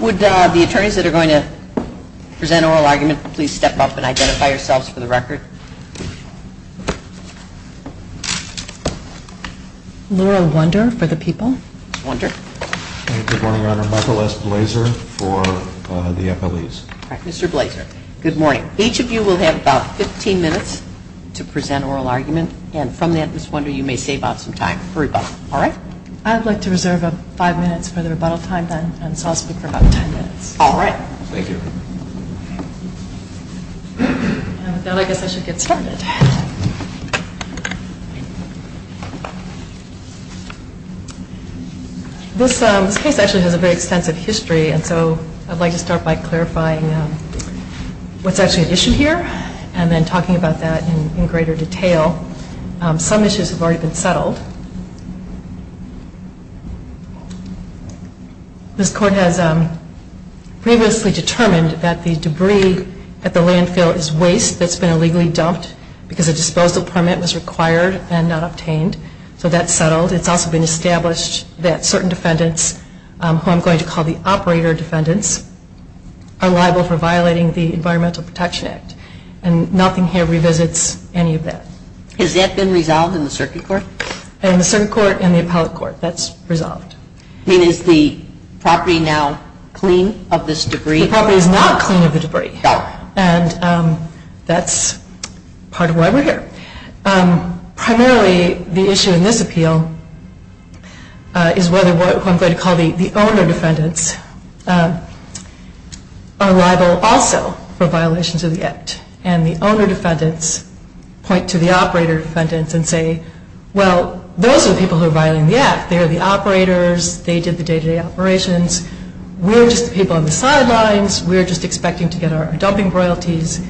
Would the attorneys that are going to present oral argument please step up and identify each of you will have about 15 minutes to present oral argument and from that Ms. Wonder you may save out some time for rebuttal, all right? I'd like to reserve 5 minutes for the rebuttal time then and so I'll speak for about 10 minutes. All right. Thank you. And with that I'll turn it over to Ms. Wonder. This case actually has a very extensive history and so I'd like to start by clarifying what's actually at issue here and then talking about that in greater detail. Some issues have already been settled. This court has previously determined that the debris at the landfill is waste that's been illegally dumped because a disposal permit was required and not obtained so that's settled. It's also been established that certain defendants who I'm going to call the operator defendants are liable for violating the Environmental Protection Act and nothing here revisits any of that. Has that been resolved in the circuit court? In the circuit court and the appellate court that's resolved. Is the property now primarily the issue in this appeal is whether what I'm going to call the owner defendants are liable also for violations of the Act and the owner defendants point to the operator defendants and say, well, those are the people who are violating the Act. They are the operators. They did the day-to-day operations. We're just the people on the sidelines. We're just expecting to get our dumping royalties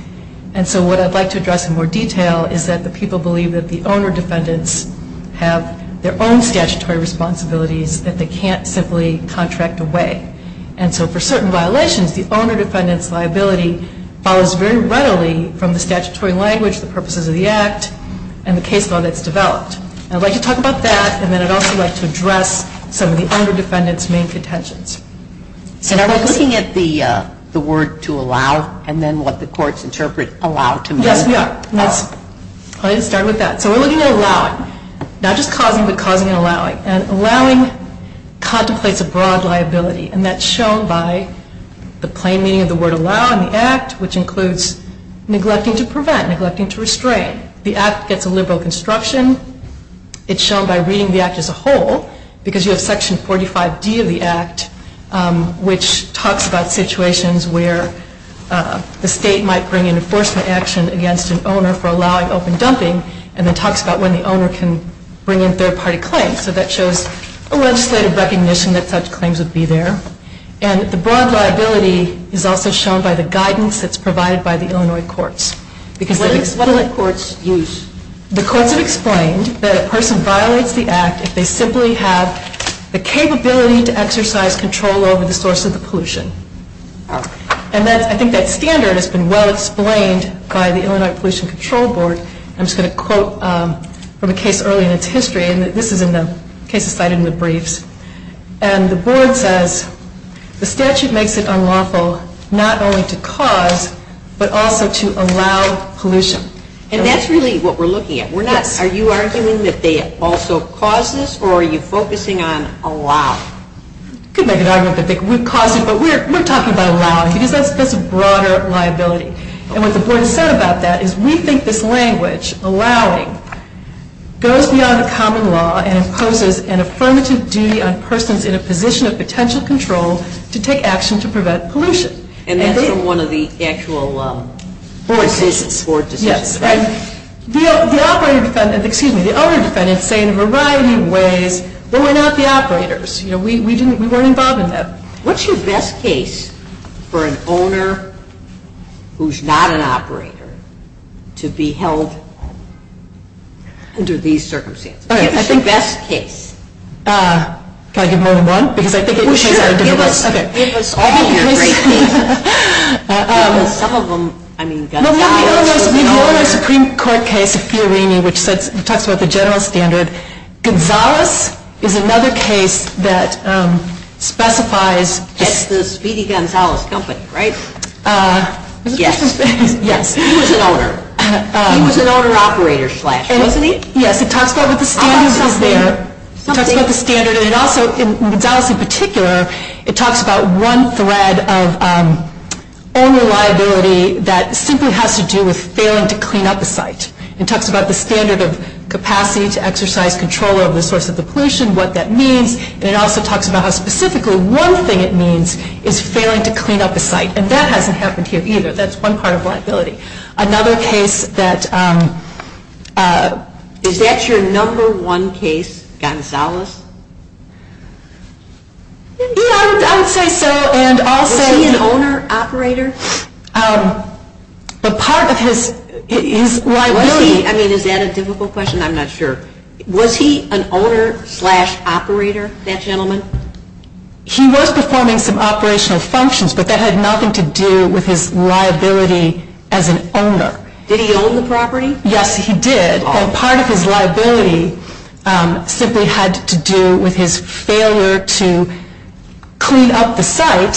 and so what I'd like to address in more detail is that the people believe that the owner defendants have their own statutory responsibilities that they can't simply contract away. And so for certain violations, the owner defendants liability follows very readily from the statutory language, the purposes of the Act and the case law that's developed. I'd like to talk about that and then I'd also like to address some of the owner defendants' main contentions. And are we looking at the word to allow and then what the courts interpret allow to make? Yes, we are. Let's start with that. So we're looking at allowing, not just causing but causing and allowing. And allowing contemplates a broad liability and that's shown by the plain meaning of the word allow in the Act which includes neglecting to prevent, neglecting to restrain. The Act gets a liberal construction. It's shown by reading the Act as a whole because you have section 45D of the Act which talks about situations where the state might bring in enforcement action against an owner for allowing open dumping and then talks about when the owner can bring in third party claims. So that shows a legislative recognition that such claims would be there. And the broad liability is also shown by the guidance that's provided by the Illinois courts. What do the courts use? The courts have explained that a person violates the Act if they simply have the capability to exercise control over the source of the pollution. And that's, I think that standard has been well explained by the Illinois Pollution Control Board. I'm just going to quote from a case early in its history and this is in the case cited in the briefs. And the board says the statute makes it unlawful not only to cause but also to allow pollution. And that's really what we're looking at. We're not, are you arguing that they also cause this or are you focusing on allow? You could make an argument that they would cause it, but we're talking about allowing because that's a broader liability. And what the board has said about that is we think this language, allowing, goes beyond the common law and imposes an affirmative duty on persons in a position of potential control to take action to prevent pollution. And that's from one of the actual board decisions. Yes. And the owner defendants say in a variety of ways, well, we're not the operators. You know, we didn't, we weren't involved in that. What's your best case for an owner who's not an operator to be held under these circumstances? What's your best case? Can I give them all one? Because I think it depends on the difference. Well, sure. Give us all your great cases. Some of them, I mean, Gonzales. We know in our Supreme Court case, Fiorini, which talks about the general standard, Gonzales is another case that specifies That's the Speedy Gonzales company, right? Yes. Yes. He was an owner. He was an owner operator slash, wasn't he? Yes. It talks about what the standard is there. It talks about the standard. And it also, in Gonzales in particular, it talks about one thread of owner liability that simply has to do with failing to clean up a site. It talks about the standard of capacity to the pollution, what that means. And it also talks about how specifically one thing it means is failing to clean up a site. And that hasn't happened here either. That's one part of liability. Another case that Is that your number one case, Gonzales? Yeah, I would say so. And also Was he an owner operator? The part of his, his liability Was he, I mean, is that a difficult question? I'm not sure. Was he an owner slash operator, that gentleman? He was performing some operational functions, but that had nothing to do with his liability as an owner. Did he own the property? Yes, he did. And part of his liability simply had to do with his failure to clean up the site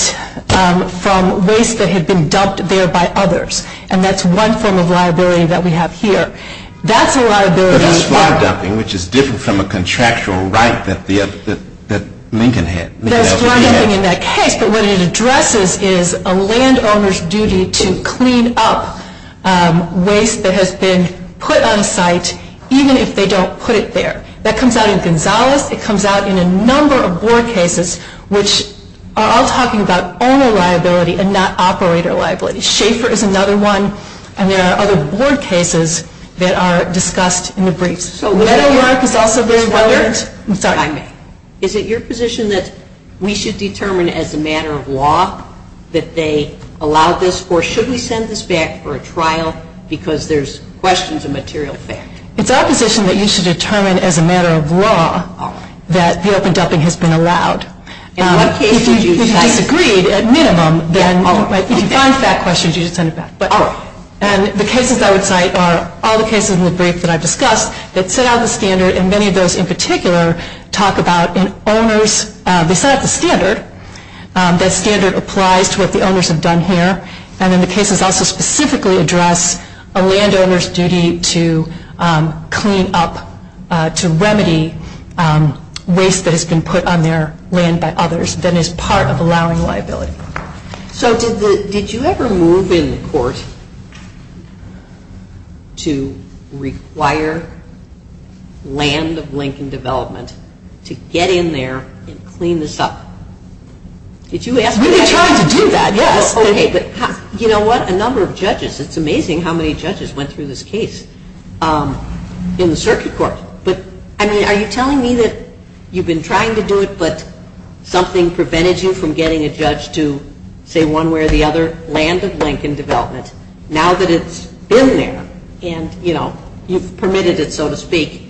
from waste that had been dumped there by others. And that's one form of liability that we have here. That's a liability But that's flood dumping, which is different from a contractual right that the, that, that Lincoln had. That's flood dumping in that case, but what it addresses is a landowner's duty to clean up waste that has been put on site, even if they don't put it there. That comes out in Gonzales. It comes out in a number of board cases, which are all talking about owner liability and not operator liability. Schaefer is another one, and there are other board cases that are discussed in the briefs. So, is it your position that we should determine as a matter of law that they allow this, or should we send this back for a trial because there's questions of material fact? It's our position that you should determine as a matter of law that the open dumping has been allowed. In what case did you decide? If you disagreed, at minimum, then if you find fact questions, you should send it back. Oh. And the cases I would cite are all the cases in the brief that I've discussed that set out the standard, and many of those in particular talk about an owner's, they set out the standard, that standard applies to what the owners have done here, and then the cases also specifically address a landowner's duty to clean up, to remedy waste that has been put on their land by others, that is part of allowing liability. So, did you ever move in court to require land of Lincoln Development to get in there and clean this up? Did you ask for that? We've been trying to do that, yes. Okay, but you know what, a number of judges, it's amazing how many judges went through this case in the circuit court, but, I mean, are you telling me that you've been trying to do it, but something prevented you from getting a judge to say one way or the other, land of Lincoln Development, now that it's been there, and, you know, you've permitted it, so to speak,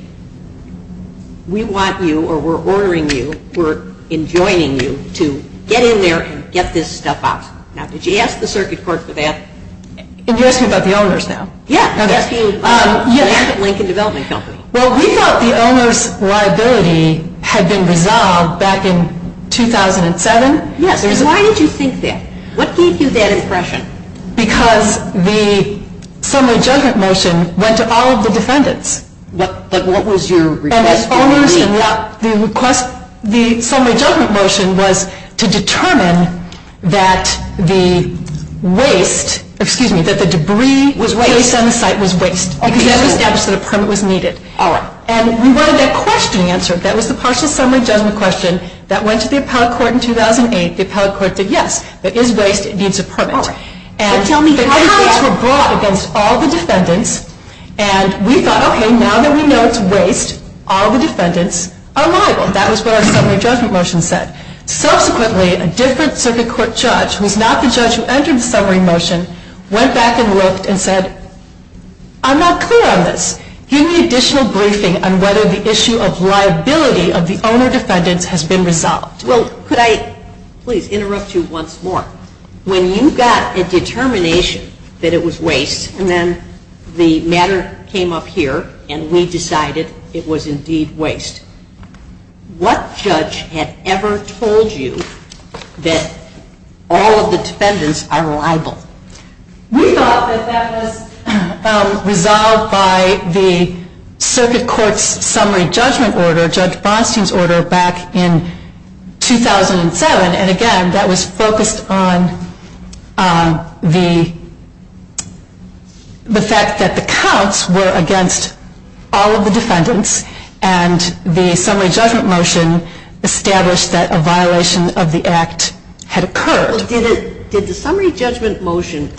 we want you, or we're ordering you, we're enjoining you to get in there and get this stuff out. Now, did you ask the circuit court for that? And you're asking about the owners now? Yeah, asking about the owners of Lincoln Development Company. Well, we thought the owners' liability had been resolved back in 2007. Yes, and why did you think that? What gave you that impression? Because the summary judgment motion went to all of the defendants. What was your request for? The summary judgment motion was to determine that the waste, excuse me, that the debris placed on the site was waste. Okay. Because that was evidence that a permit was needed. All right. And we wanted that question answered. That was the partial summary judgment question that went to the appellate court in 2008. The appellate court said, yes, it is waste, it needs a permit. All right. But tell me how did that... And the arguments were brought against all the defendants, and we thought, okay, now that we know it's waste, all the defendants are liable. That was what our summary judgment motion said. Subsequently, a different circuit court judge, who's not the judge who entered the summary motion, went back and looked and said, I'm not clear on this. Give me additional briefing on whether the issue of liability of the owner defendants has been resolved. Well, could I please interrupt you once more? When you got a determination that it was waste, and then the matter came up here, and we decided it was indeed waste, what judge had ever told you that all of the defendants are liable? We thought that that was resolved by the circuit court's summary judgment order, Judge Bronstein's order, back in 2007. And again, that was focused on the fact that the counts were against the all of the defendants, and the summary judgment motion established that a violation of the act had occurred. Did the summary judgment motion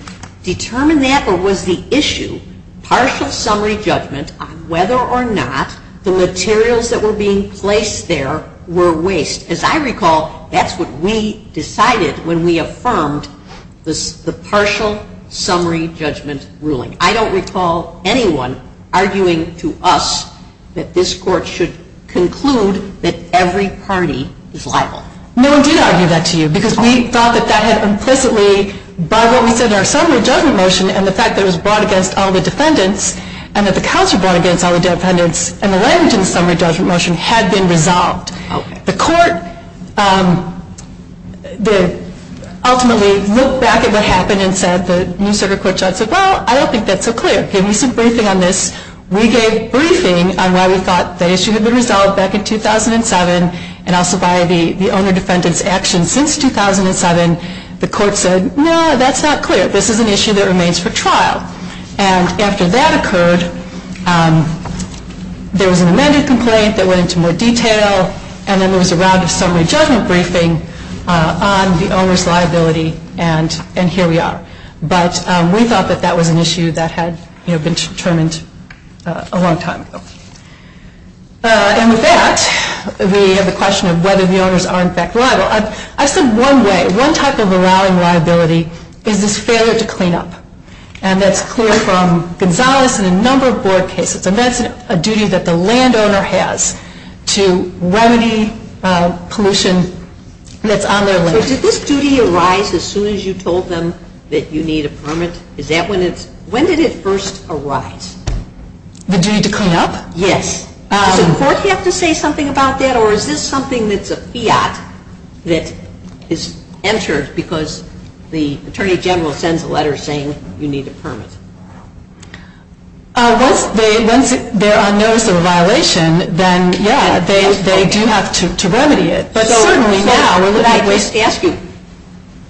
determine that, or was the issue partial summary judgment on whether or not the materials that were being placed there were waste? As I recall, that's what we decided when we affirmed the partial summary judgment ruling. I don't recall anyone arguing to us that this court should conclude that every party is liable. No one did argue that to you, because we thought that that had implicitly, by what we said in our summary judgment motion, and the fact that it was brought against all the defendants, and that the counts were brought against all the defendants, and the language in the summary judgment motion had been resolved. The court ultimately looked back at what happened and said, the new circuit that's so clear. Give me some briefing on this. We gave briefing on why we thought the issue had been resolved back in 2007, and also by the owner-defendant's actions since 2007. The court said, no, that's not clear. This is an issue that remains for trial. And after that occurred, there was an amended complaint that went into more detail, and then there was a round of summary judgment briefing on the owner's liability, and here we are. But we thought that that was an issue that had been determined a long time ago. And with that, we have the question of whether the owners are in fact liable. I said one way, one type of allowing liability is this failure to clean up. And that's clear from Gonzales and a number of board cases, and that's a duty that the landowner has to remedy pollution that's on their land. Did this duty arise as soon as you told them that you need a permit? When did it first arise? The duty to clean up? Yes. Does the court have to say something about that, or is this something that's a fiat that is entered because the Attorney General sends a letter saying you need a permit? Once they're on notice of a violation, then yeah, they do have to remedy it. But certainly now we're looking at ways to ask you,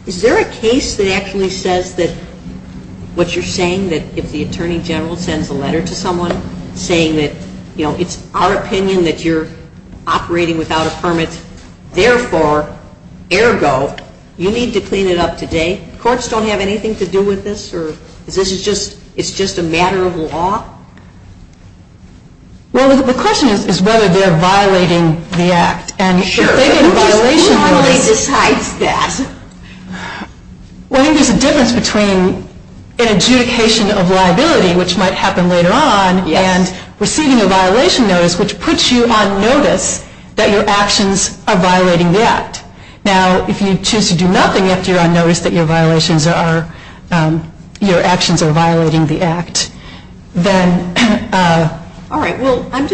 is there a case that actually says that what you're saying, that if the Attorney General sends a letter to someone saying that, you know, it's our opinion that you're operating without a permit, therefore, ergo, you need to clean it up today? Courts don't have anything to do with this? Or is this just a matter of law? Well, the question is whether they're violating the act. Sure. Who decides that? Well, I think there's a difference between an adjudication of liability, which might happen later on, and receiving a violation notice, which puts you on notice that your actions are violating the act. Now, if you choose to do nothing after you're on notice that your actions are violating the act, then... All right, well, I'm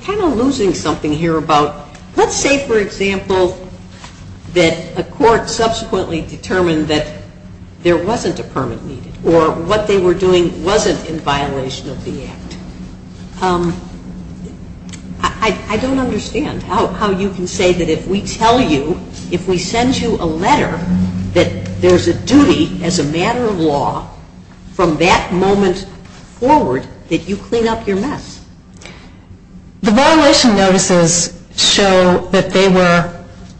kind of losing something here about, let's say for example, that a court subsequently determined that there wasn't a permit needed, or what they were doing wasn't in violation of the act. I don't understand how you can say that if we tell you, if we send you a letter that there's a duty as a matter of law from that moment forward that you clean up your mess. The violation notices show that they were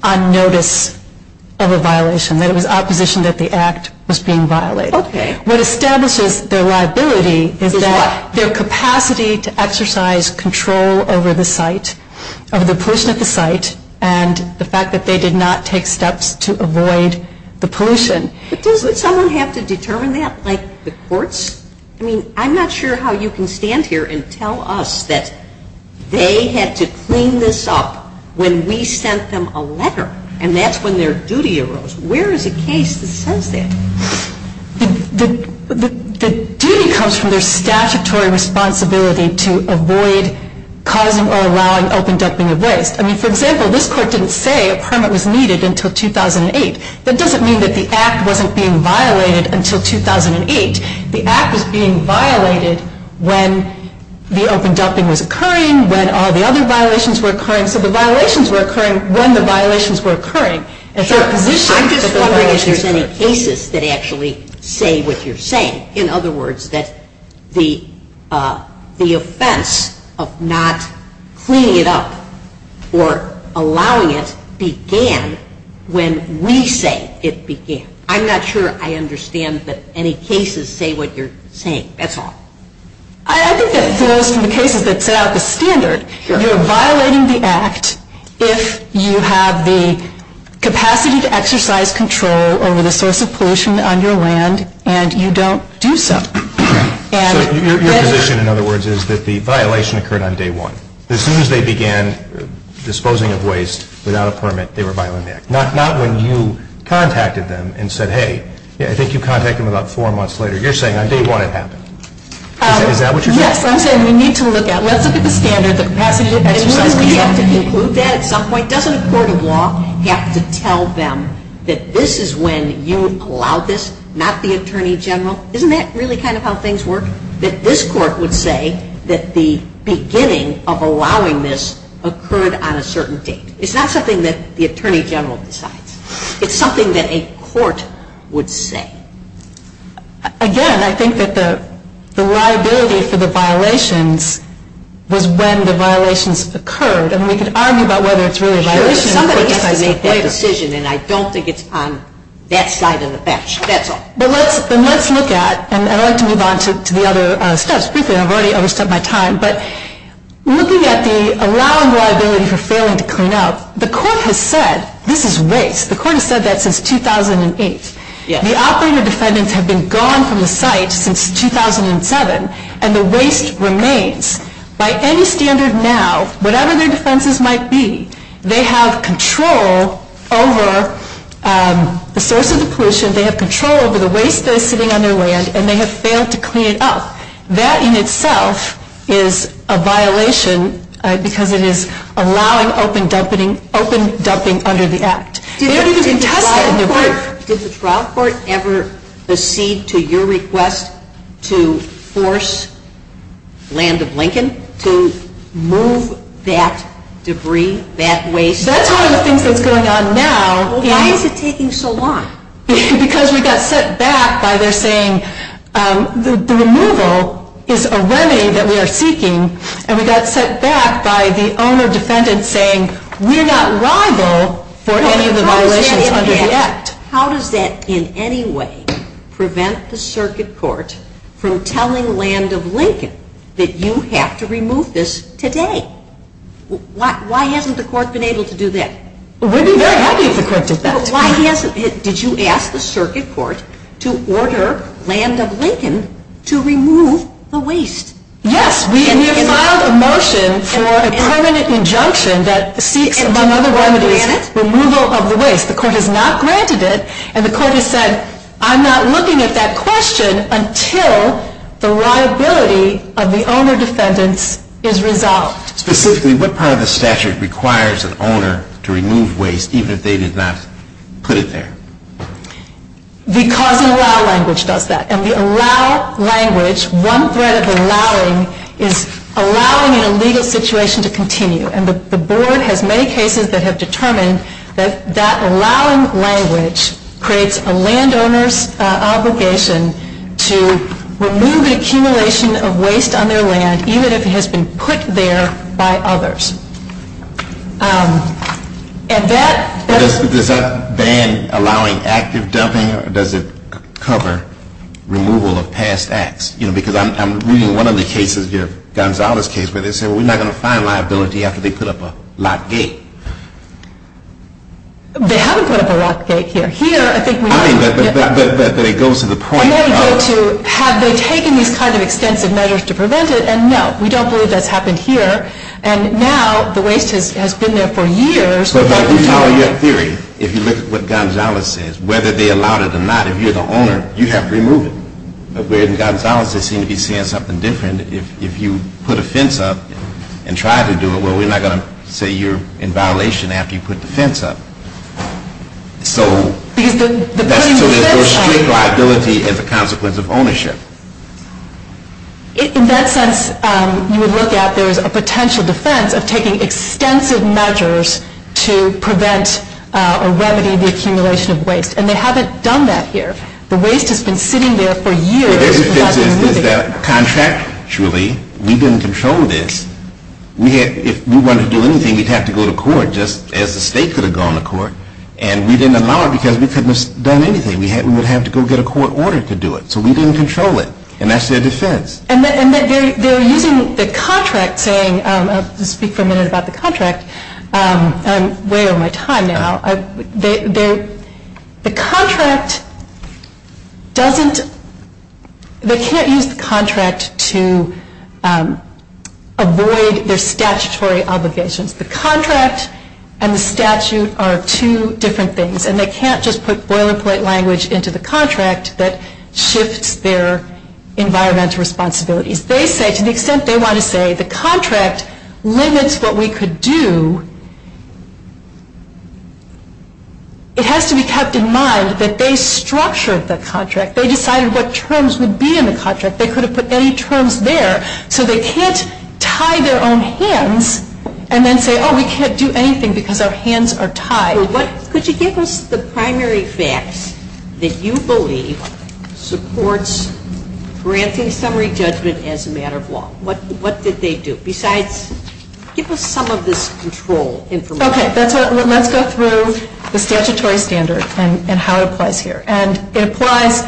on notice of a violation, that it was opposition that the act was being violated. Okay. What establishes their liability is that... Is what? Their capacity to exercise control over the site, over the pollution at the site, and the fact that they did not take steps to avoid the pollution. But does someone have to determine that, like the courts? I mean, I'm not sure how you can stand here and tell us that they had to clean this up when we sent them a letter, and that's when their duty arose. Where is a case that says that? The duty comes from their statutory responsibility to avoid causing or allowing open dumping of waste. I mean, for example, this court didn't say a permit was needed until 2008. That doesn't mean that the act wasn't being violated until 2008. The act was being violated when the open dumping was occurring, when all the other violations were occurring. So the violations were occurring when the violations were occurring. I'm just wondering if there's any cases that actually say what you're saying. In other words, that the offense of not cleaning it up or allowing it began when we say it began. I'm not sure I understand that any cases say what you're saying. That's all. I think that falls from the cases that set out the standard. You're violating the act if you have the capacity to exercise control over the source of pollution on your land and you don't do so. So your position, in other words, is that the violation occurred on day one. As soon as they began disposing of waste without a permit, they were violating the act. Not when you contacted them and said, hey, I think you contacted them about four months later. You're saying on day one it happened. Is that what you're saying? Yes. I'm saying we need to look at, let's look at the standard, the capacity to exercise control. And wouldn't we have to conclude that at some point? Doesn't a court of law have to tell them that this is when you allowed this, not the Attorney General? Isn't that really kind of how things work? That this court would say that the beginning of allowing this occurred on a certain date. It's not something that the Attorney General decides. It's something that a court would say. Again, I think that the liability for the violations was when the violations occurred. And we could argue about whether it's really a violation. Somebody has to make that decision and I don't think it's on that side of the bench. That's all. Then let's look at, and I'd like to move on to the other steps briefly. I've already overstepped my time. But looking at the allowing liability for failing to clean up, the court has said this is waste. The court has said that since 2008. The operator defendants have been gone from the site since 2007 and the waste remains. By any standard now, whatever their defenses might be, they have control over the source of the pollution. They have control over the waste that is sitting on their land and they have failed to clean it up. That in itself is a violation because it is allowing open dumping under the Act. Did the trial court ever proceed to your request to force Land of Lincoln to move that debris, that waste? That's one of the things that's going on now. Why is it taking so long? Because we got set back by their saying the removal is a remedy that we are seeking and we got set back by the owner defendant saying we're not liable for any of the violations under the Act. How does that in any way prevent the circuit court from telling Land of Lincoln that you have to remove this today? Why hasn't the court been able to do that? We'd be very happy if the court did that. But why hasn't it? Did you ask the circuit court to order Land of Lincoln to remove the waste? Yes. We have filed a motion for a permanent injunction that seeks, among other remedies, removal of the waste. The court has not granted it and the court has said I'm not looking at that question until the liability of the owner defendants is resolved. Specifically, what part of the statute requires an owner to remove waste even if they did not put it there? Because an allow language does that. And the allow language, one thread of the allowing, is allowing an illegal situation to continue. And the board has made cases that have determined that that allowing language creates a landowner's obligation to remove an accumulation of waste on their land even if it has been put there by others. And that Does that ban allowing active dumping or does it cover removal of past acts? Because I'm reading one of the cases, Gonzalo's case, where they say we're not going to find liability after they put up a lock gate. They haven't put up a lock gate here. Here, I think we have. But it goes to the point of And then it goes to have they taken these kind of extensive measures to prevent it? And no, we don't believe that's happened here. And now, the waste has been there for years. But if you follow your theory, if you look at what Gonzalo says, whether they allowed it or not, if you're the owner, you have to remove it. But where as Gonzalo's, they seem to be saying something different. If you put a fence up and try to do it, well, we're not going to say you're in violation after you put the fence up. So Because the putting the fence up There's strict liability as a consequence of ownership. In that sense, you would look at there is a potential defense of taking extensive measures to prevent or remedy the accumulation of waste. And they haven't done that here. The waste has been sitting there for years. The difference is that contractually, we didn't control this. If we wanted to do anything, we'd have to go to court just as the state could have gone to court. And we didn't allow it because we couldn't have done anything. We would have to go get a court order to do it. So we didn't control it. And that's their defense. And they're using the contract saying, I'll speak for a minute about the contract. I'm way over my time now. The contract doesn't, they can't use the contract to avoid their statutory obligations. The contract and the statute are two different things. And they can't just put boilerplate language into the contract that shifts their environmental responsibilities. They say, to the extent they want to say the contract limits what we could do, it has to be kept in mind that they structured the contract. They decided what terms would be in the contract. They could have put any terms there. So they can't tie their own hands and then say, oh, we can't do anything because our hands are tied. Could you give us the primary facts that you believe supports granting summary judgment as a matter of law? What did they do? Besides, give us some of this control information. Okay, let's go through the statutory standard and how it applies here. And it applies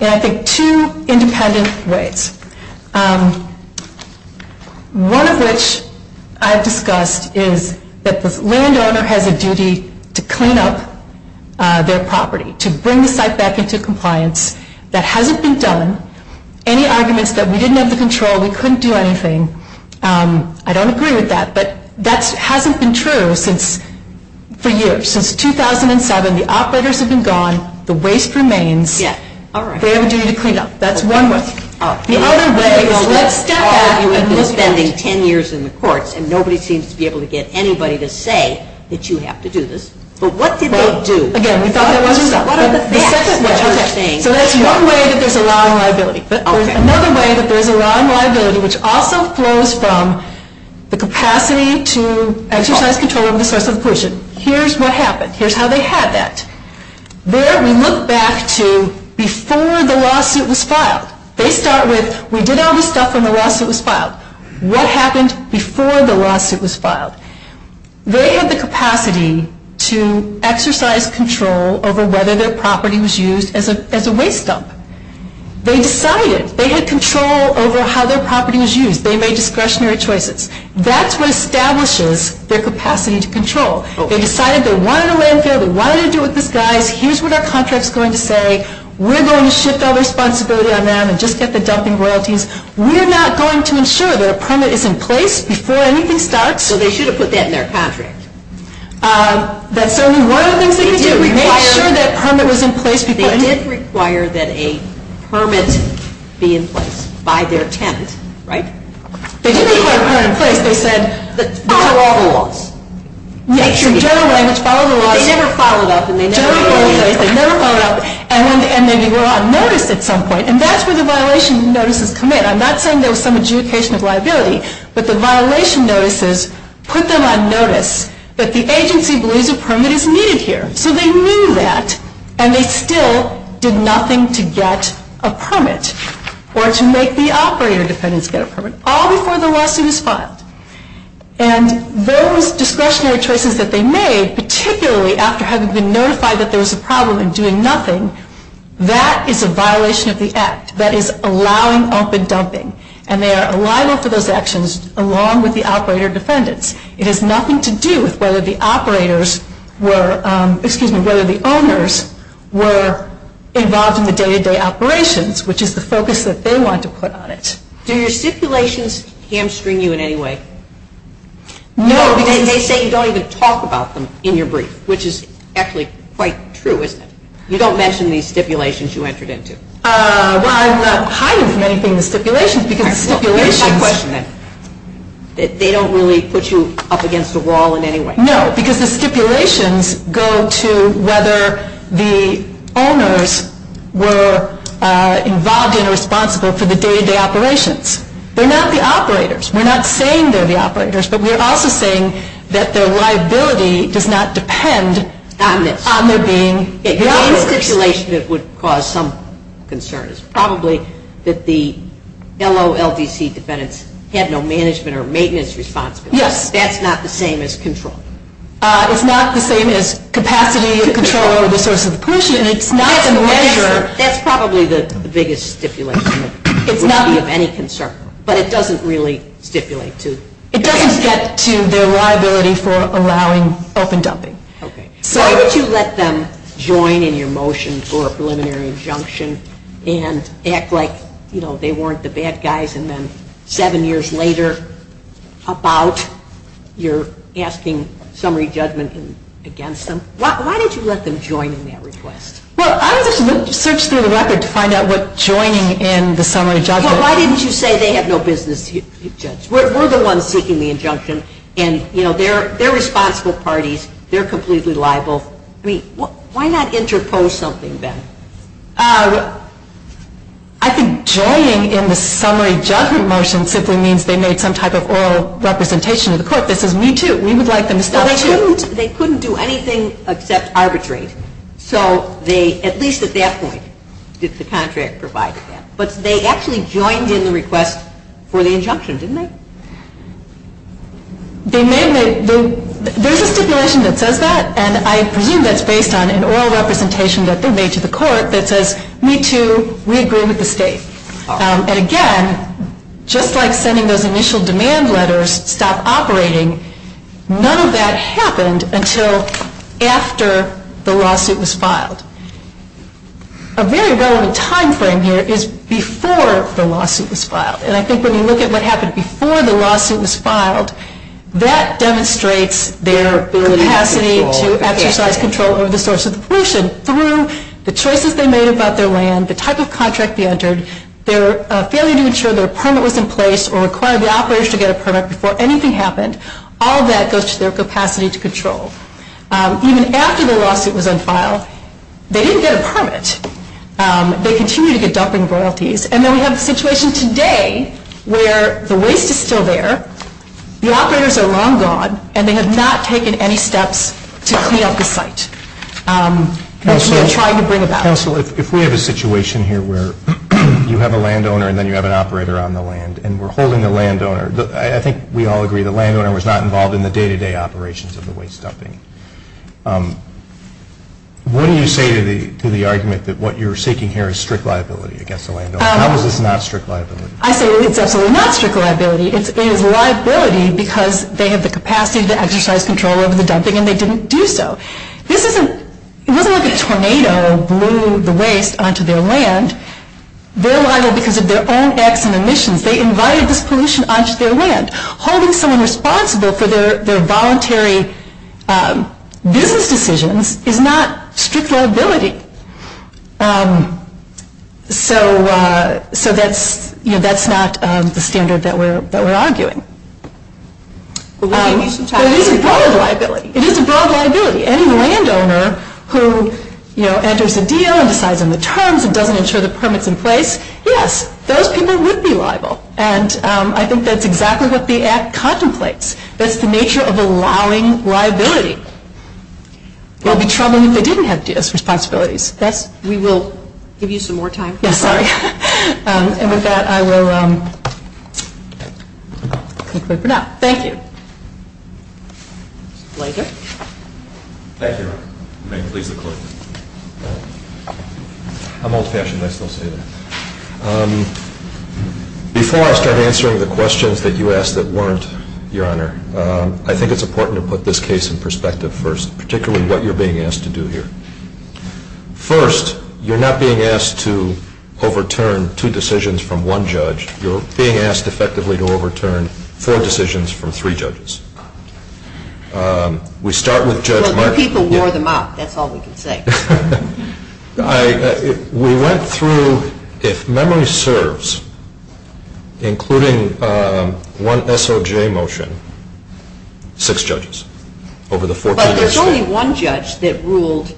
in, I think, two independent ways. One of which I've discussed is that the landowner has a duty to clean up their property, to bring the site back into compliance. That hasn't been done. Any arguments that we didn't have the control, we couldn't do anything, I don't agree with that. But that hasn't been true for years. Since 2007, the operators have been gone. The waste remains. They have a duty to clean up. That's one way. The other way is let's step back and look at it. You've been spending 10 years in the courts and nobody seems to be able to get anybody to say that you have to do this. But what did they do? Again, we thought that wasn't enough. So that's one way that there's a law on liability. There's another way that there's a law on liability which also flows from the capacity to exercise control over the source of the pollution. Here's what happened. Here's how they had that. There, we look back to before the lawsuit was filed. They start with, we did all this stuff when the lawsuit was filed. What happened before the lawsuit was filed? They had the capacity to exercise control over whether their property was used as a waste dump. They decided. They had control over how their property was used. They made discretionary choices. That's what establishes their capacity to control. They decided they wanted a landfill. They wanted to do it in disguise. Here's what our contract's going to say. We're going to shift all responsibility on them and just get the dumping royalties. We're not going to ensure that a permit is in place before anything starts. So they should have put that in their contract. That's certainly one of the things they could do. Make sure that permit was in place before anything. They did require that a permit be in place by their tenant, right? They did require a permit in place. They said, follow all the laws. General language, follow the laws. But they never followed up. General language, they never followed up. And then they were on notice at some point. And that's where the violation notices come in. I'm not saying there was some adjudication of liability. But the violation notices put them on notice that the agency believes a permit is needed here. So they knew that. And they still did nothing to get a permit or to make the operator defendants get a permit all before the lawsuit was filed. And those discretionary choices that they made, particularly after having been notified that there was a problem and doing nothing, that is a violation of the act. That is allowing open dumping. And they are liable for those actions along with the operator defendants. It has nothing to do with whether the operators were, excuse me, whether the owners were involved in the day-to-day operations, which is the focus that they wanted to put on it. Do your stipulations hamstring you in any way? No. Because they say you don't even talk about them in your brief, which is actually quite true, isn't it? You don't mention these stipulations you entered into? Well, I'm not hiding from anything in the stipulations because the stipulations... Here's my question then. They don't really put you up against a wall in any way? No, because the stipulations go to whether the owners were involved and responsible for the day-to-day operations. They're not the operators. We're not saying they're the operators, but we're also saying that their liability does not depend on their being the operators. The main stipulation that would cause some concern is probably that the LOLDC defendants had no management or maintenance responsibility. Yes. That's not the same as control. It's not the same as capacity to control over the source of the pollution. It's not the measure... That's probably the biggest stipulation that would be of any concern, but it doesn't really stipulate to... It doesn't get to their liability for allowing open dumping. Okay. Why would you let them join in your motion for a preliminary injunction and act like, you know, they weren't the bad guys and then seven years later up out, you're asking summary judgment against them? Why did you let them join in that request? Well, I would just search through the record to find out what joining in the summary judgment... Well, why didn't you say they have no business with these judges? We're the ones seeking the injunction and, you know, they're responsible parties. They're completely liable. I mean, why not interpose something then? I think joining in the summary judgment motion simply means they made some type of oral representation to the court that says, we too, we would like them to stop... Well, they couldn't do anything except arbitrate. So they, at least at that point, did the contract provide that. But they actually joined in the request for the injunction, didn't they? They made the... There's a stipulation that says that and I presume that's based on an oral representation that they made to the court that says, we too, we agree with the state. And again, just like sending those initial demand letters stop operating, none of that happened until after the lawsuit was filed. A very relevant time frame here is before the lawsuit was filed. And I think when you look at what happened before the lawsuit was filed, that demonstrates their capacity to exercise control over the source of the pollution through the choices they made about their land, the type of contract they entered, their failure to ensure their permit was in place or require the operators to get a permit before anything happened. All of that goes to their capacity to control. Even after the lawsuit was unfiled, they didn't get a permit. They continued to get dumping royalties. And then we have the situation today where the waste is still there, the operators are long gone, and they have not taken any steps to clean up the site that we are trying to bring about. Counsel, if we have a situation here where you have a landowner and then you have an operator on the land and we're holding the landowner... I think we all agree the landowner was not involved in the day-to-day operations of the waste dumping. What do you say to the argument that what you're seeking here is strict liability against the landowner? How is this not strict liability? I say it's absolutely not strict liability. It is liability because they have the capacity to exercise control over the dumping and they didn't do so. It wasn't like a tornado blew the waste onto their land. They're liable because of their own acts and emissions. They invited this pollution onto their land. Holding someone responsible for their voluntary business decisions is not strict liability. That's not the standard that we're arguing. It is a broad liability. Any landowner who enters a deal and decides on the terms and doesn't ensure the permits in place, yes, those people would be liable. I think that's exactly what the Act contemplates. That's the nature of allowing liability. They'll be troubling if they didn't have DS responsibilities. We will give you some more time. Yes, sorry. And with that, I will conclude for now. Thank you. that you asked that weren't, Your Honor, I think it's important to put this case in perspective first, particularly what you're being asked to do here. First, you're not being asked to overturn two decisions from one judge. You're being asked effectively to overturn four decisions from three judges. We start with Judge Mark. Well, the people wore them out. That's all we can say. We went through if memory serves, including one SOJ motion, six judges over the 14 days. But there's only one judge that ruled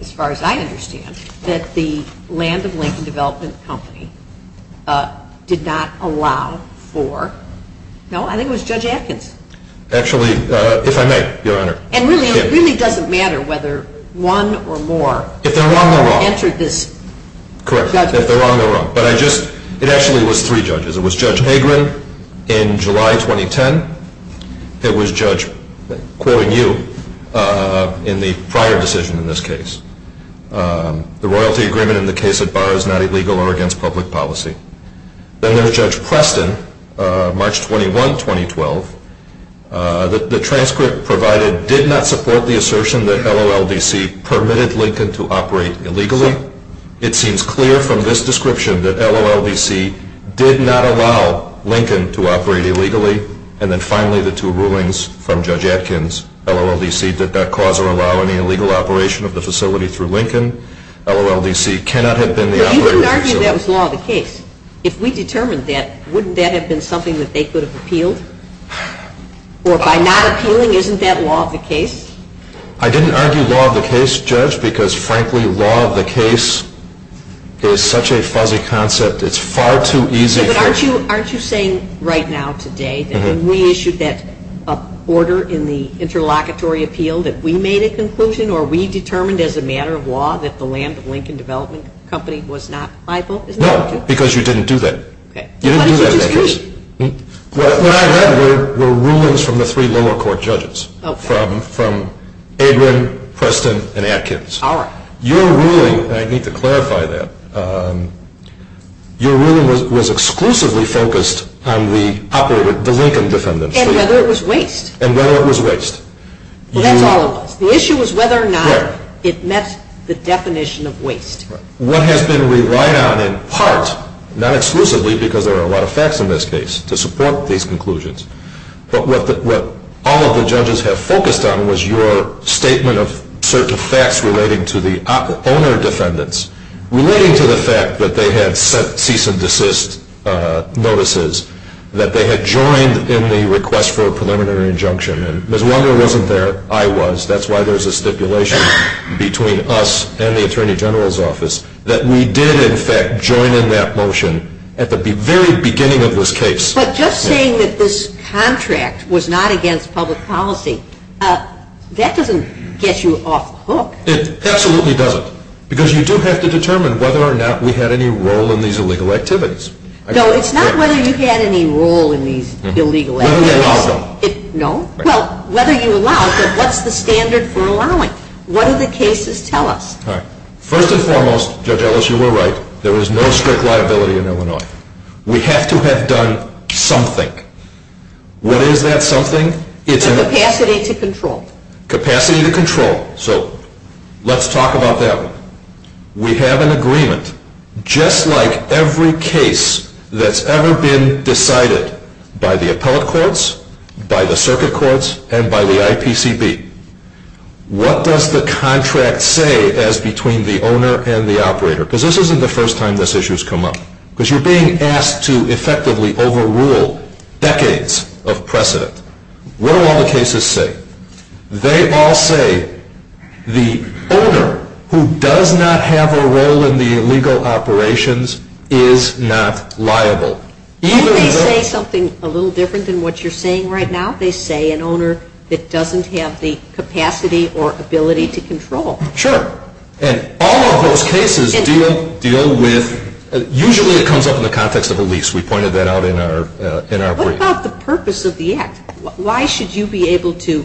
as far as I understand that the Land of Lincoln Development Company did not allow for, no, I think it was Judge Atkins. Actually, if I may, Your Honor. And it really doesn't matter whether one or more entered this. Correct. If they're wrong, they're wrong. It actually was three judges. It was Judge Hagren in July 2010. It was Judge Coynew in the prior decision in this case. The royalty agreement in the case at bar is not illegal or against public policy. Then there's Judge Preston, March 21, 2012. The transcript provided did not support the assertion that LOLDC permitted Lincoln to operate illegally. It seems clear from this description that LOLDC did not allow Lincoln to operate illegally. And then finally the two rulings from Judge Atkins. LOLDC did not cause or allow any illegal operation of the facility through Lincoln. LOLDC cannot have been the operator of the facility. You can argue that was law of the case. If we determined that, wouldn't that have been something that they could have appealed? Or by not appealing, isn't that law of the case? I didn't argue law of the case, Judge, because frankly law of the case is such a fuzzy concept. It's far too easy for... But aren't you saying right now today that when we issued that order in the interlocutory appeal that we made a conclusion or we determined as a matter of law that the land of Lincoln Development Company was not liable? No. Because you didn't do that. What did you disagree? What I read were rulings from the three lower court judges, from Adrian, Preston, and Atkins. Your ruling, and I need to clarify that, your ruling was exclusively focused on the operator, the Lincoln defendants. And whether it was waste. That's all it was. The issue was whether or not it met the definition of waste. What has been relied on in part, not exclusively because there are a lot of facts in this case to support these conclusions, but what all of the judges have focused on was your statement of certain facts relating to the owner defendants. Relating to the fact that they had set cease and desist notices. That they had joined in the request for a preliminary injunction. Ms. Wander wasn't there. I was. That's why there's a stipulation between us and the Attorney General's office that we did in fact join in that motion at the very beginning of this case. But just saying that this contract was not against public policy, that doesn't get you off hook. It absolutely doesn't. Because you do have to determine whether or not we had any role in these illegal activities. No, it's not whether you had any role in these illegal activities. Whether you allowed them. No. Well, whether you allowed them, what's the standard for allowing? What do the cases tell us? First and foremost, Judge Ellis, you were right. There is no strict liability in Illinois. We have to have done something. What is that something? Capacity to control. Capacity to control. So let's talk about that one. We have an agreement. Just like every case that's ever been decided by the appellate courts, by the circuit courts, and by the IPCB. What does the contract say as between the owner and the operator? Because this isn't the first time this issue has come up. Because you're being asked to effectively overrule decades of precedent. What do all the cases say? They all say the owner who does not have a role in the illegal operations is not liable. Don't they say something a little different than what you're saying right now? They say an owner that doesn't have the capacity or ability to control. Sure. And all of those cases deal with usually it comes up in the context of a lease. We pointed that out in our brief. What about the purpose of the act? Why should you be able to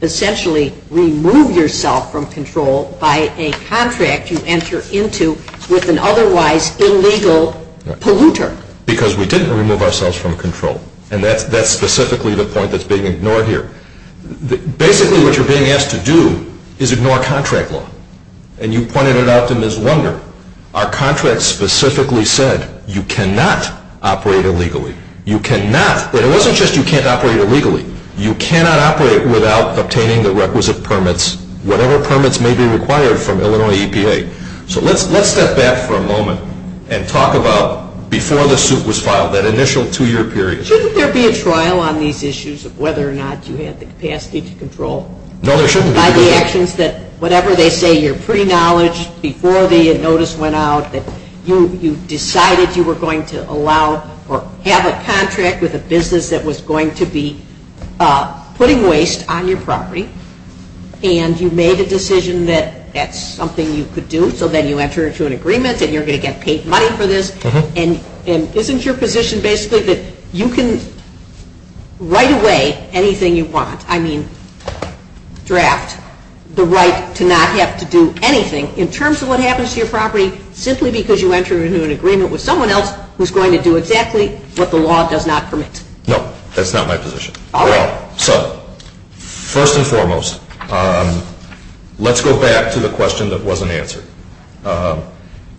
essentially remove yourself from control by a contract you enter into with an otherwise illegal polluter? Because we didn't remove ourselves from control. And that's specifically the point that's being ignored here. Basically what you're being asked to do is ignore contract law. And you pointed it out to Ms. Lunder. Our contract specifically said you cannot operate illegally. You cannot but it wasn't just you can't operate illegally. You cannot operate without obtaining the requisite permits, whatever permits may be required from Illinois EPA. So let's step back for a moment and talk about before the suit was filed, that initial two year period. Shouldn't there be a trial on these issues of whether or not you had the capacity to control? No, there shouldn't be. By the actions that, whatever they say you're pre-knowledge, before the notice went out, that you decided you were going to allow or have a contract with a business that was going to be putting waste on your property and you made a decision that that's something you could do. So then you enter into an agreement and you're going to get paid money for this. And isn't your position basically that you can right away anything you want, I mean draft the right to not have to do anything in terms of what happens to your property simply because you enter into an agreement with someone else who's going to do exactly what the law does not permit? No, that's not my position. Alright. So first and foremost let's go back to the question that wasn't answered.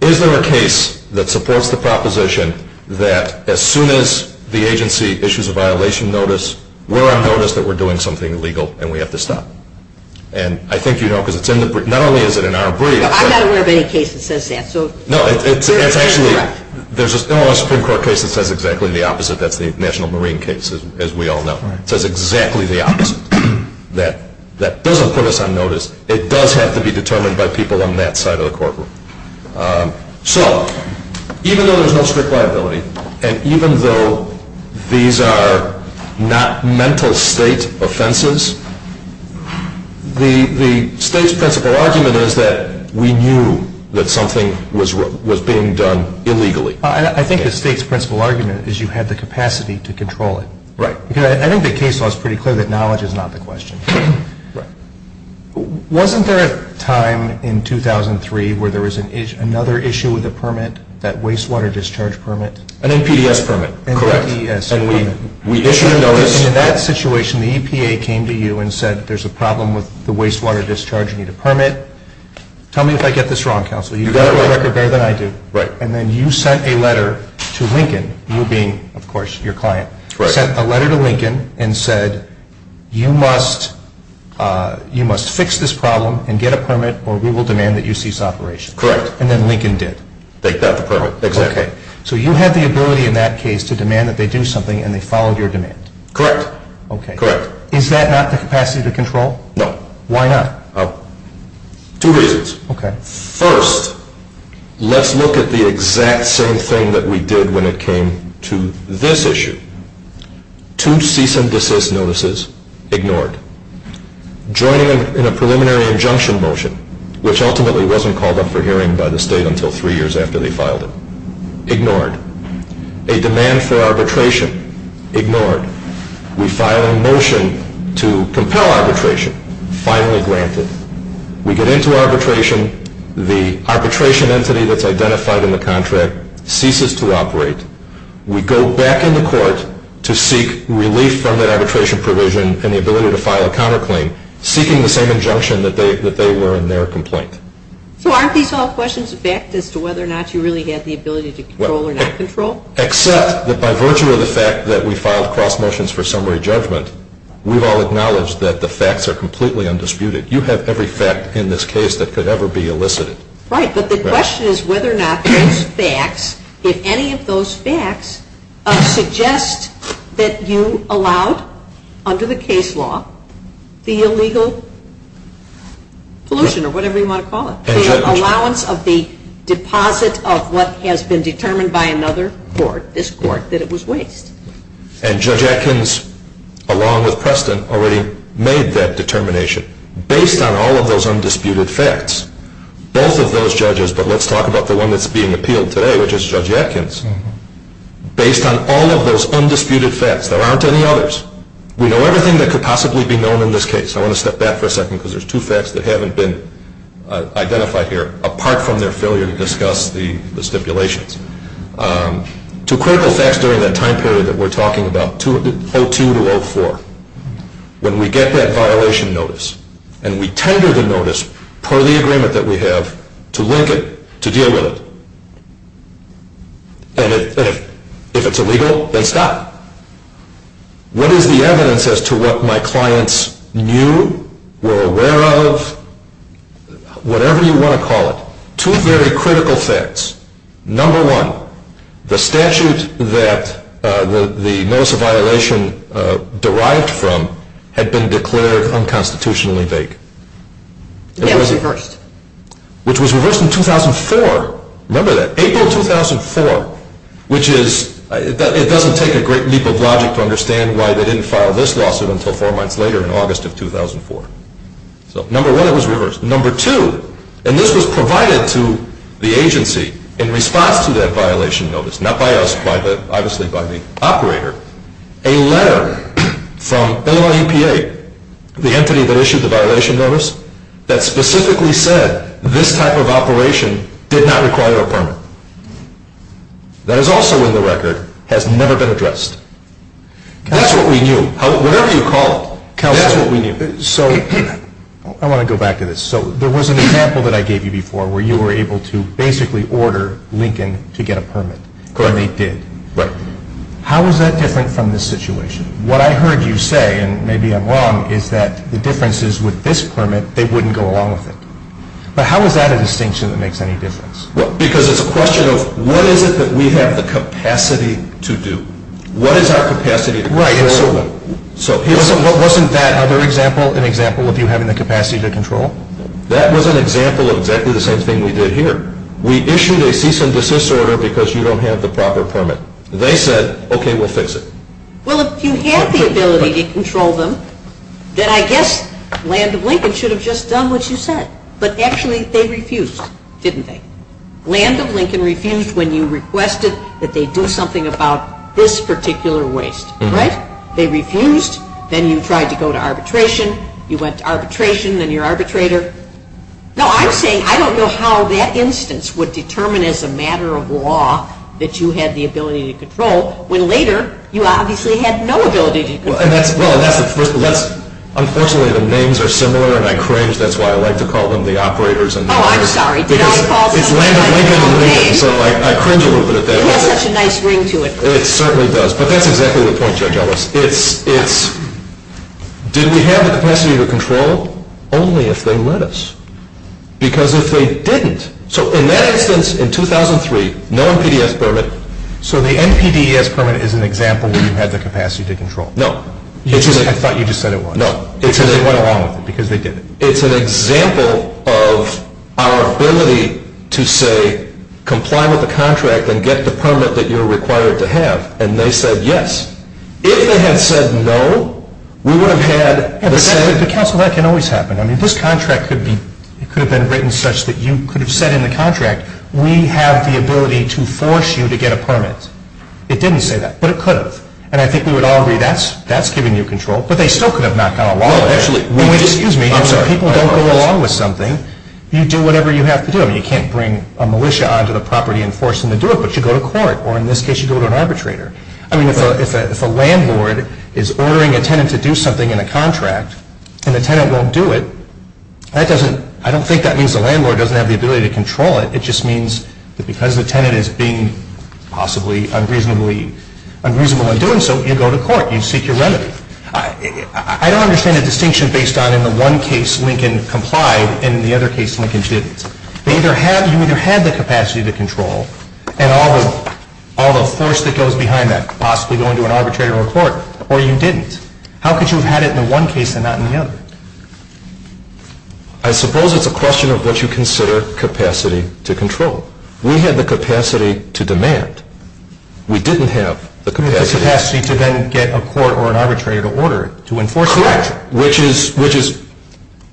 Is there a case that supports the proposition that as soon as the agency issues a violation notice, we're on notice that we're doing something illegal and we have to stop? And I think you know not only is it in our breed I'm not aware of any case that says that No, it's actually there's no Supreme Court case that says exactly the opposite that's the National Marine case as we all know. It says exactly the opposite that doesn't put us on notice. It does have to be determined by people on that side of the courtroom. So even though there's no strict liability and even though these are not mental state offenses the state's principle argument is that we knew that something was being done illegally. I think the state's principle argument is you had the capacity to control it. Right. I think the case law is pretty clear that knowledge is not the question. Wasn't there a time in 2003 where there was another issue with a permit that wastewater discharge permit An NPDES permit. Correct. And we issued a notice In that situation the EPA came to you and said there's a problem with the wastewater discharge you need a permit tell me if I get this wrong counsel you've got a record better than I do. Right. And then you sent a letter to Lincoln you being of course your client sent a letter to Lincoln and said you must you must fix this problem and get a permit or we will demand that you cease operation. Correct. And then Lincoln did. They got the permit. Exactly. So you had the ability in that case to demand that they do something and they followed your demand. Correct. Okay. Correct. Is that not the capacity to control? No. Why not? Two reasons. First let's look at the exact same thing that we did when it came to this issue. Two cease and desist notices ignored. Joining in a preliminary injunction motion which ultimately wasn't called up for hearing by the state until three years after they filed it. Ignored. A demand for arbitration ignored. We file a motion to compel arbitration finally granted. We get into arbitration the arbitration entity that's identified in the contract ceases to operate we go back in the court to seek relief from that and file a counterclaim seeking the same injunction that they were in their complaint. So aren't these all questions of fact as to whether or not you really had the ability to control or not control? Except that by virtue of the fact that we filed cross motions for summary judgment we've all acknowledged that the facts are completely undisputed. You have every fact in this case that could ever be elicited. Right. But the question is whether or not those facts, if any of those facts, suggest that you allowed under the case law the illegal pollution or whatever you want to call it the allowance of the deposit of what has been determined by another court, this court that it was waste. And Judge Atkins along with Preston already made that determination based on all of those undisputed facts. Both of those judges, but let's talk about the one that's being appealed today which is Judge Atkins based on all of those undisputed facts. There aren't any others. We know everything that could possibly be known in this case. I want to step back for a second because there's two facts that haven't been identified here apart from their failure to discuss the stipulations. Two critical facts during that time period that we're talking about 02 to 04 when we get that violation notice and we tender the notice per the agreement that we have to link it, to deal with it and if it's illegal then stop. What is the evidence as to what my clients knew were aware of whatever you want to call it two very critical facts number one, the statute that the notice of violation derived from had been declared unconstitutionally vague. It was reversed. Which was reversed in 2004 remember that, April 2004 which is it doesn't take a great leap of logic to understand why they didn't file this lawsuit until four months later in August of 2004. So number one, it was reversed. Number two, and this was provided to the agency in response to that violation notice not by us, obviously by the operator a letter from LLEPA the entity that issued the violation notice that specifically said that this type of operation did not require a permit. That is also in the record has never been addressed. That's what we knew. Whatever you call it, that's what we knew. I want to go back to this. So there was an example that I gave you before where you were able to basically order Lincoln to get a permit and they did. How is that different from this situation? What I heard you say, and maybe I'm wrong is that the differences with this permit they wouldn't go along with it. But how is that a distinction that makes any difference? Because it's a question of what is it that we have the capacity to do? What is our capacity to control them? Wasn't that other example an example of you having the capacity to control? That was an example of exactly the same thing we did here. We issued a cease and desist order because you don't have the proper permit. They said, okay, we'll fix it. Well, if you had the ability to control them then I guess Land of Lincoln should have just done what you said. But actually they refused, didn't they? Land of Lincoln refused when you requested that they do something about this particular waste, right? They refused then you tried to go to arbitration you went to arbitration, then you're arbitrator. Now I'm saying I don't know how that instance would determine as a matter of law that you had the ability to control when later you obviously had no permission. Unfortunately the names are similar and I cringe, that's why I like to call them the operators Oh, I'm sorry. It's Land of Lincoln and Lincoln so I cringe a little bit at that. It has such a nice ring to it. It certainly does. But that's exactly the point, Judge Ellis. Did we have the capacity to control? Only if they let us. Because if they didn't so in that instance in 2003 no NPDES permit so the NPDES permit is an example where you had the capacity to control. No. I thought you just said it was. No. It's an example of our ability to say comply with the contract and get the permit that you're required to have and they said yes. If they had said no we would have had the same. That can always happen. This contract could have been written such that you could have said in the contract we have the ability to force you to get a permit. It didn't say that. But it could have. And I think we would all agree that's giving you control. But they still could have knocked on a wall. Excuse me. I'm sorry. If people don't go along with something you do whatever you have to do. You can't bring a militia onto the property and force them to do it but you go to court or in this case you go to an arbitrator. If a landlord is ordering a tenant to do something in a contract and the tenant won't do it I don't think that means the landlord doesn't have the ability to control it. It just means that because the tenant is being possibly unreasonable in doing so you go to court. You seek your remedy. I don't understand the distinction based on in the one case Lincoln complied and in the other case Lincoln didn't. You either had the capacity to control and all the force that goes behind that possibly going to an arbitrator or court or you didn't. How could you have had it in the one case and not in the other? I suppose it's a question of what you consider capacity to control. We had the capacity to demand. We didn't have the capacity to then get a court or an arbitrator to order to enforce the contract. Correct.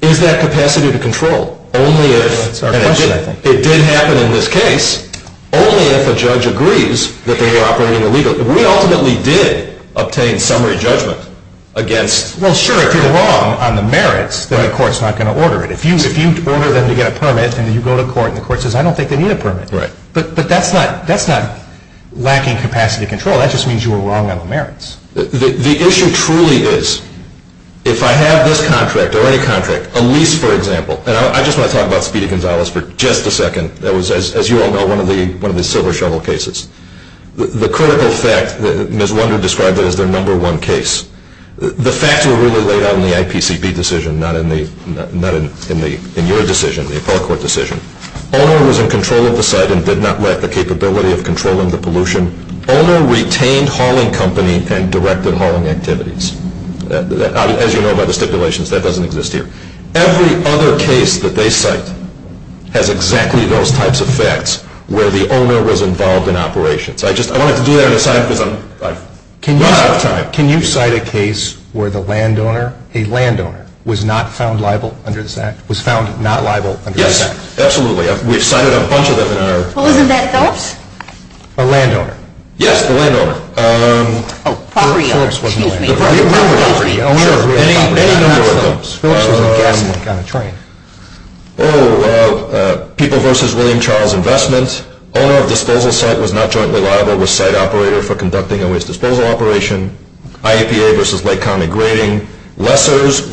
Is that capacity to control? It did happen in this case only if a judge agrees that they were operating illegally. We ultimately did obtain summary judgment against. Well sure if you're wrong on the merits then the court's not going to order it. If you order them to get a permit and you go to court and the court says I don't think they need a permit. But that's not lacking capacity to control. That just means you were wrong on the merits. The issue truly is if I have this contract or any contract a lease for example and I just want to talk about Speedy Gonzalez for just a second that was as you all know one of the silver shovel cases. The critical fact that Ms. Wunder described that as their number one case the facts were really laid out in the IPCP decision not in the your decision, the appellate court decision. Owner was in control of the site and did not lack the capability of controlling the pollution. Owner retained hauling company and directed hauling activities. As you know by the stipulations that doesn't exist here. Every other case that they cite has exactly those types of facts where the owner was involved in operations. I just wanted to do that on the side because I'm out of time. Can you cite a case where the land owner, a land owner was not found liable under this act? Was found not liable under this act? Yes, absolutely. We've cited a bunch of them in our Wasn't that Phillips? A land owner? Yes, the land owner. Oh, property owner. Excuse me. Any number of them. Phillips was in Gaslink on a train. Oh, people versus William Charles Investment. Owner of disposal site was not jointly liable with site operator for conducting a waste disposal operation. IAPA versus Lake County Grading. Lessors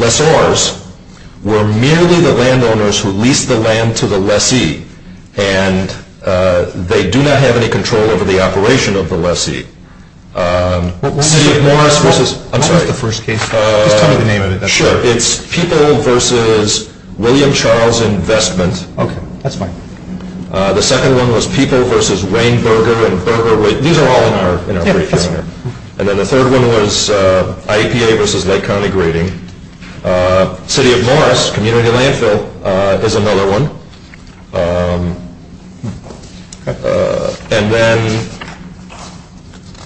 were merely the land owners who leased the land to the lessee and they do not have any control over the operation of the lessee. What was the first case? I'm sorry. Just tell me the name of it. Sure, it's people versus William Charles Investment. Okay, that's fine. The second one was people versus Rainberger and Berger. These are all in our This one was IAPA versus Lake County Grading. City of Morris, Community Landfill is another one. And then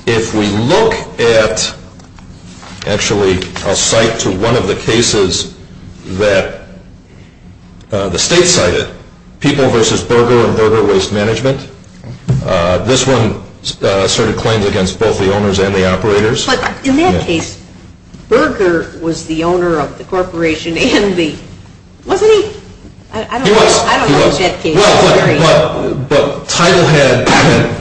if we look at actually I'll cite to one of the cases that the state cited. People versus Berger and Berger Waste Management. This one asserted claims against both the owners and the operators. But in that case, Berger was the owner of the corporation and the wasn't he? He was. But Titlehead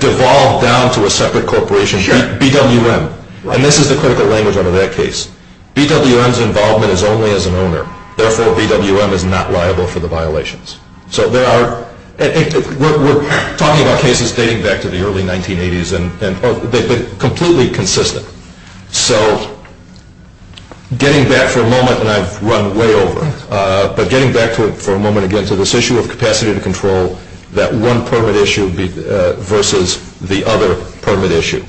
devolved down to a separate corporation BWM. And this is the critical language under that case. BWM's involvement is only as an owner. Therefore, BWM is not liable for the violations. We're talking about cases dating back to the early 1980s and they've been completely consistent. So getting back for a moment and I've run way over but getting back for a moment again to this issue of capacity to control that one permit issue versus the other permit issue.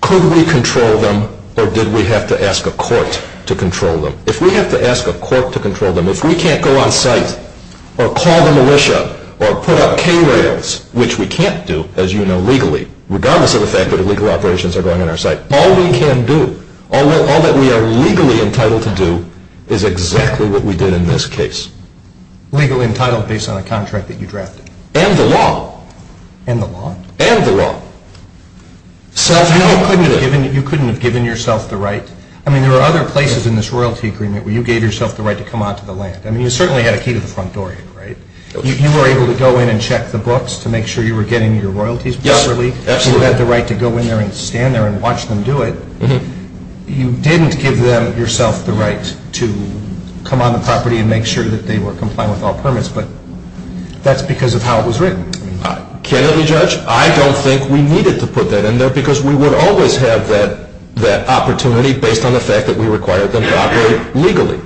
Could we control them or did we have to ask a court to control them? If we have to ask a court to control them if we can't go on site or call the militia or put up K-rails which we can't do as you know legally regardless of the fact that illegal operations are going on our site all we can do all that we are legally entitled to do is exactly what we did in this case. Legally entitled based on a contract that you drafted? And the law. And the law. You couldn't have given yourself the right I mean there are other places in this royalty agreement where you gave yourself the right to come onto the land. I mean you certainly had a key to the front door. You were able to go in and check the books to make sure you were getting your royalties properly. You had the right to go in there and stand there and watch them do it. You didn't give them yourself the right to come on the property and make sure that they were complying with all permits but that's because of how it was written. I don't think we needed to put that in there because we would always have that opportunity based on the fact that we required them to operate legally.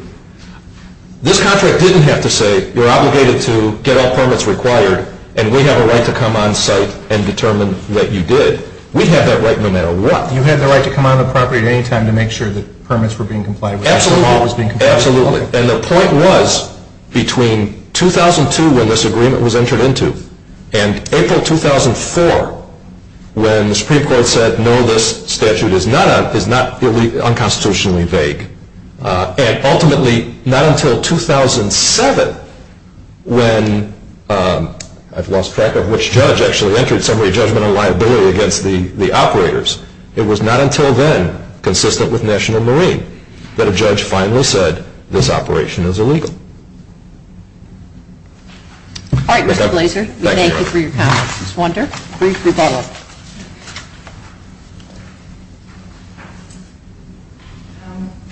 This contract didn't have to say you're obligated to get all permits required and we have a right to come on site and determine that you did. We have that right no matter what. You had the right to come on the property at any time to make sure that permits were being complied with. Absolutely. And the point was between 2002 when this agreement was entered into and April 2004 when the Supreme Court said no this statute is not unconstitutionally vague and ultimately not until 2007 when I've lost track of which judge actually entered a summary judgment on liability against the operators it was not until then consistent with National Marine that a judge finally said this operation is illegal. Alright, Mr. Blaser. Thank you for your comments. Ms. Wunder, brief rebuttal.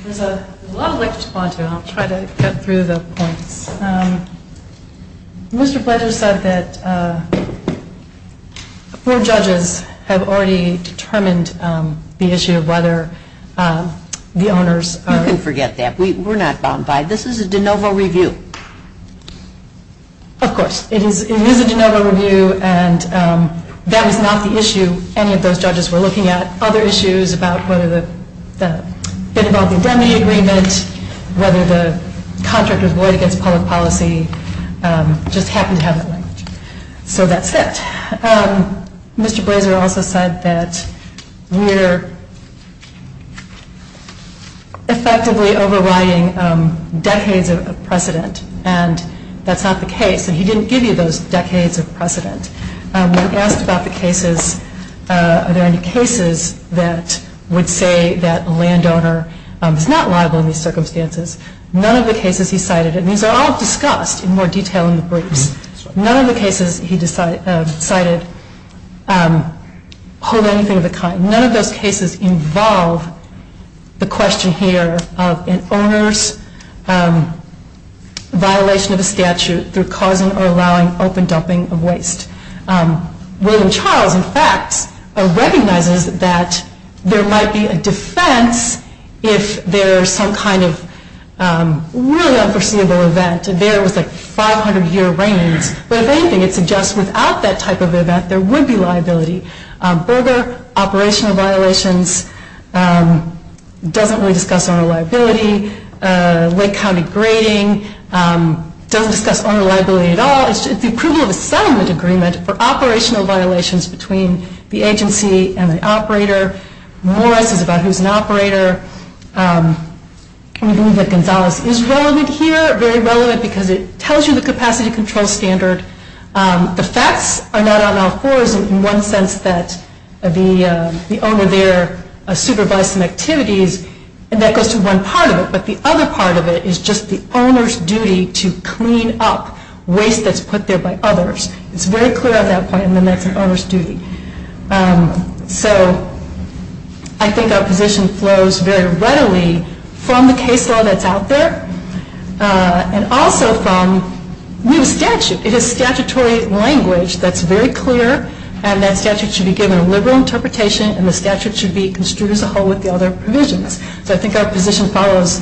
There's a lot I'd like to respond to and I'll try to get through the points. Mr. Blaser said that four judges have already determined the issue of whether the owners are You can forget that. We're not bound by it. This is a de novo review. Of course. It is a de novo review and that was not the issue. Any of those judges were looking at other issues about whether it involved a remedy agreement whether the contract was void against public policy just happened to have that language. So that's it. Mr. Blaser also said that we're effectively overriding decades of precedent and that's not the case. He didn't give you those decades of precedent. When asked about the cases are there any cases that would say that a landowner is not liable in these circumstances, none of the cases he cited, and these are all discussed in more detail in the briefs, none of the cases he cited hold anything of the kind. None of those cases involve the question here of an owner's violation of a statute through causing or allowing open dumping of waste. William Charles in fact recognizes that there might be a defense if there is some kind of really unforeseeable event. There was a 500 year reign but if anything it suggests without that type of event there would be liability. Burger, operational violations doesn't really discuss owner liability. Lake County grading doesn't discuss owner liability at all. It's the approval of a settlement agreement for operational violations between the agency and the operator. Morris is about who's an operator. Gonzales is relevant here, very relevant because it tells you the capacity control standard. The facts are not out in all fours in one sense that the owner there supervised some activities and that goes to one part of it but the owner's duty to clean up waste that's put there by others. It's very clear at that point and then that's an owner's duty. So I think our position flows very readily from the case law that's out there and also from the statute. It is statutory language that's very clear and that statute should be given a liberal interpretation and the statute should be construed as a whole with the other provisions. So I think our position follows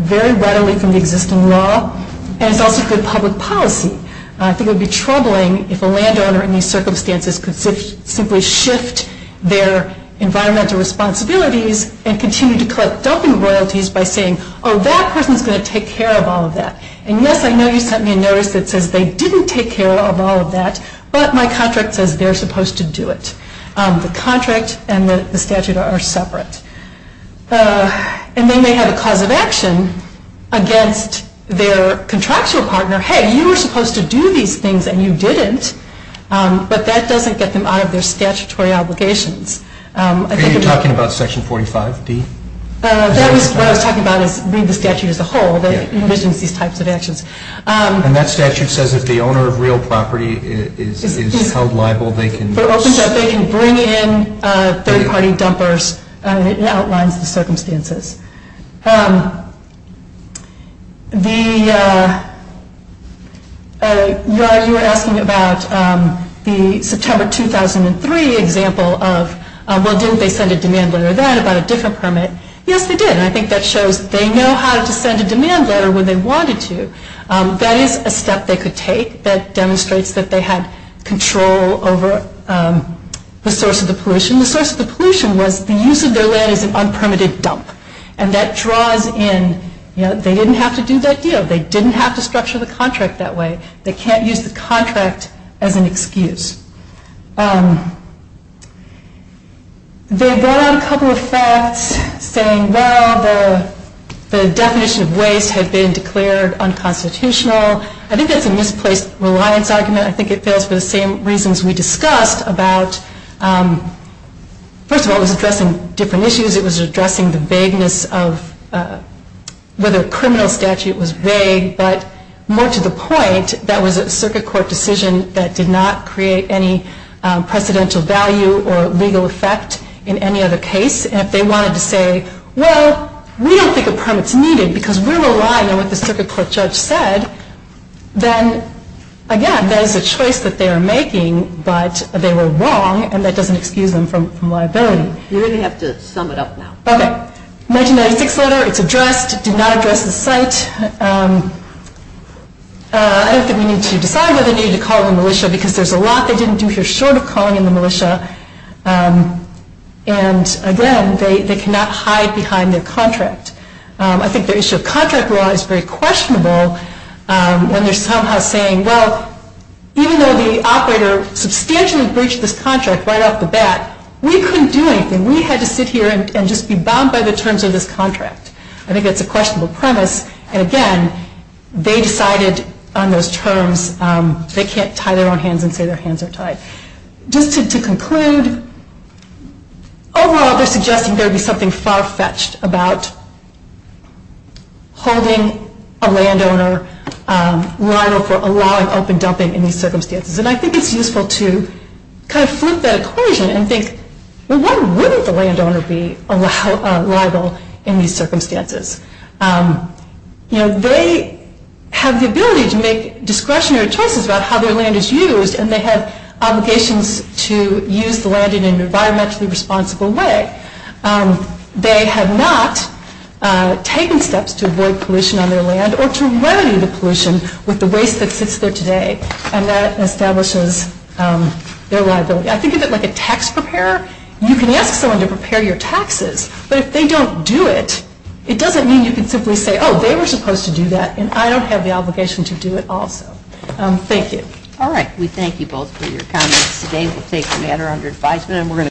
very readily from the existing law and it's also good public policy. I think it would be troubling if a land owner in these circumstances could simply shift their environmental responsibilities and continue to collect dumping royalties by saying oh that person's going to take care of all of that and yes I know you sent me a notice that says they didn't take care of all of that but my contract says they're supposed to do it. The contract and the statute are separate. And then they have a cause of action against their contractual partner. Hey you were supposed to do these things and you didn't but that doesn't get them out of their statutory obligations. Are you talking about section 45 D? That was what I was talking about is the statute as a whole that provisions these types of actions. And that statute says if the owner of real property is held liable they can bring in third party dumpers and it outlines the circumstances. You were asking about the September 2003 example of well didn't they send a demand letter then about a different permit? Yes they did and I think that shows they know how to send a demand letter when they wanted to. That is a step they could take that demonstrates that they had control over the source of the pollution. The source of the pollution was the use of their land as an unpermitted dump. And that draws in, they didn't have to do that deal. They didn't have to structure the contract that way. They can't use the contract as an excuse. They brought out a couple of facts saying well the definition of waste had been declared unconstitutional. I think that's a misplaced reliance argument. I think it was about first of all it was addressing different issues. It was addressing the vagueness of whether a criminal statute was vague but more to the point that was a circuit court decision that did not create any precedential value or legal effect in any other case. And if they wanted to say well we don't think a permit is needed because we're relying on what the circuit court judge said then again that is a choice that they are making but they were wrong and that doesn't excuse them from liability. You're going to have to sum it up now. 1996 letter, it's addressed, did not address the site. I don't think we need to decide whether they need to call the militia because there's a lot they didn't do here short of calling the militia and again they cannot hide behind their contract. I think their issue of contract law is very questionable when they're somehow saying well even though the operator substantially breached this contract right off the bat we couldn't do anything. We had to sit here and just be bound by the terms of this contract. I think that's a questionable premise and again they decided on those terms they can't tie their own hands and say their hands are tied. Just to conclude overall they're suggesting there would be something far-fetched about holding a landowner liable for allowing open dumping in these circumstances and I think it's useful to kind of flip that equation and think well why wouldn't the landowner be liable in these circumstances? They have the ability to make discretionary choices about how their land is used and they have obligations to use the land in an environmentally responsible way. They have not taken steps to avoid pollution on their land or to remedy the pollution with the waste that sits there today and that establishes their liability. I think of it like a tax preparer. You can ask someone to prepare your taxes but if they don't do it it doesn't mean you can simply say oh they were supposed to do that and I don't have the obligation to do it also. Thank you.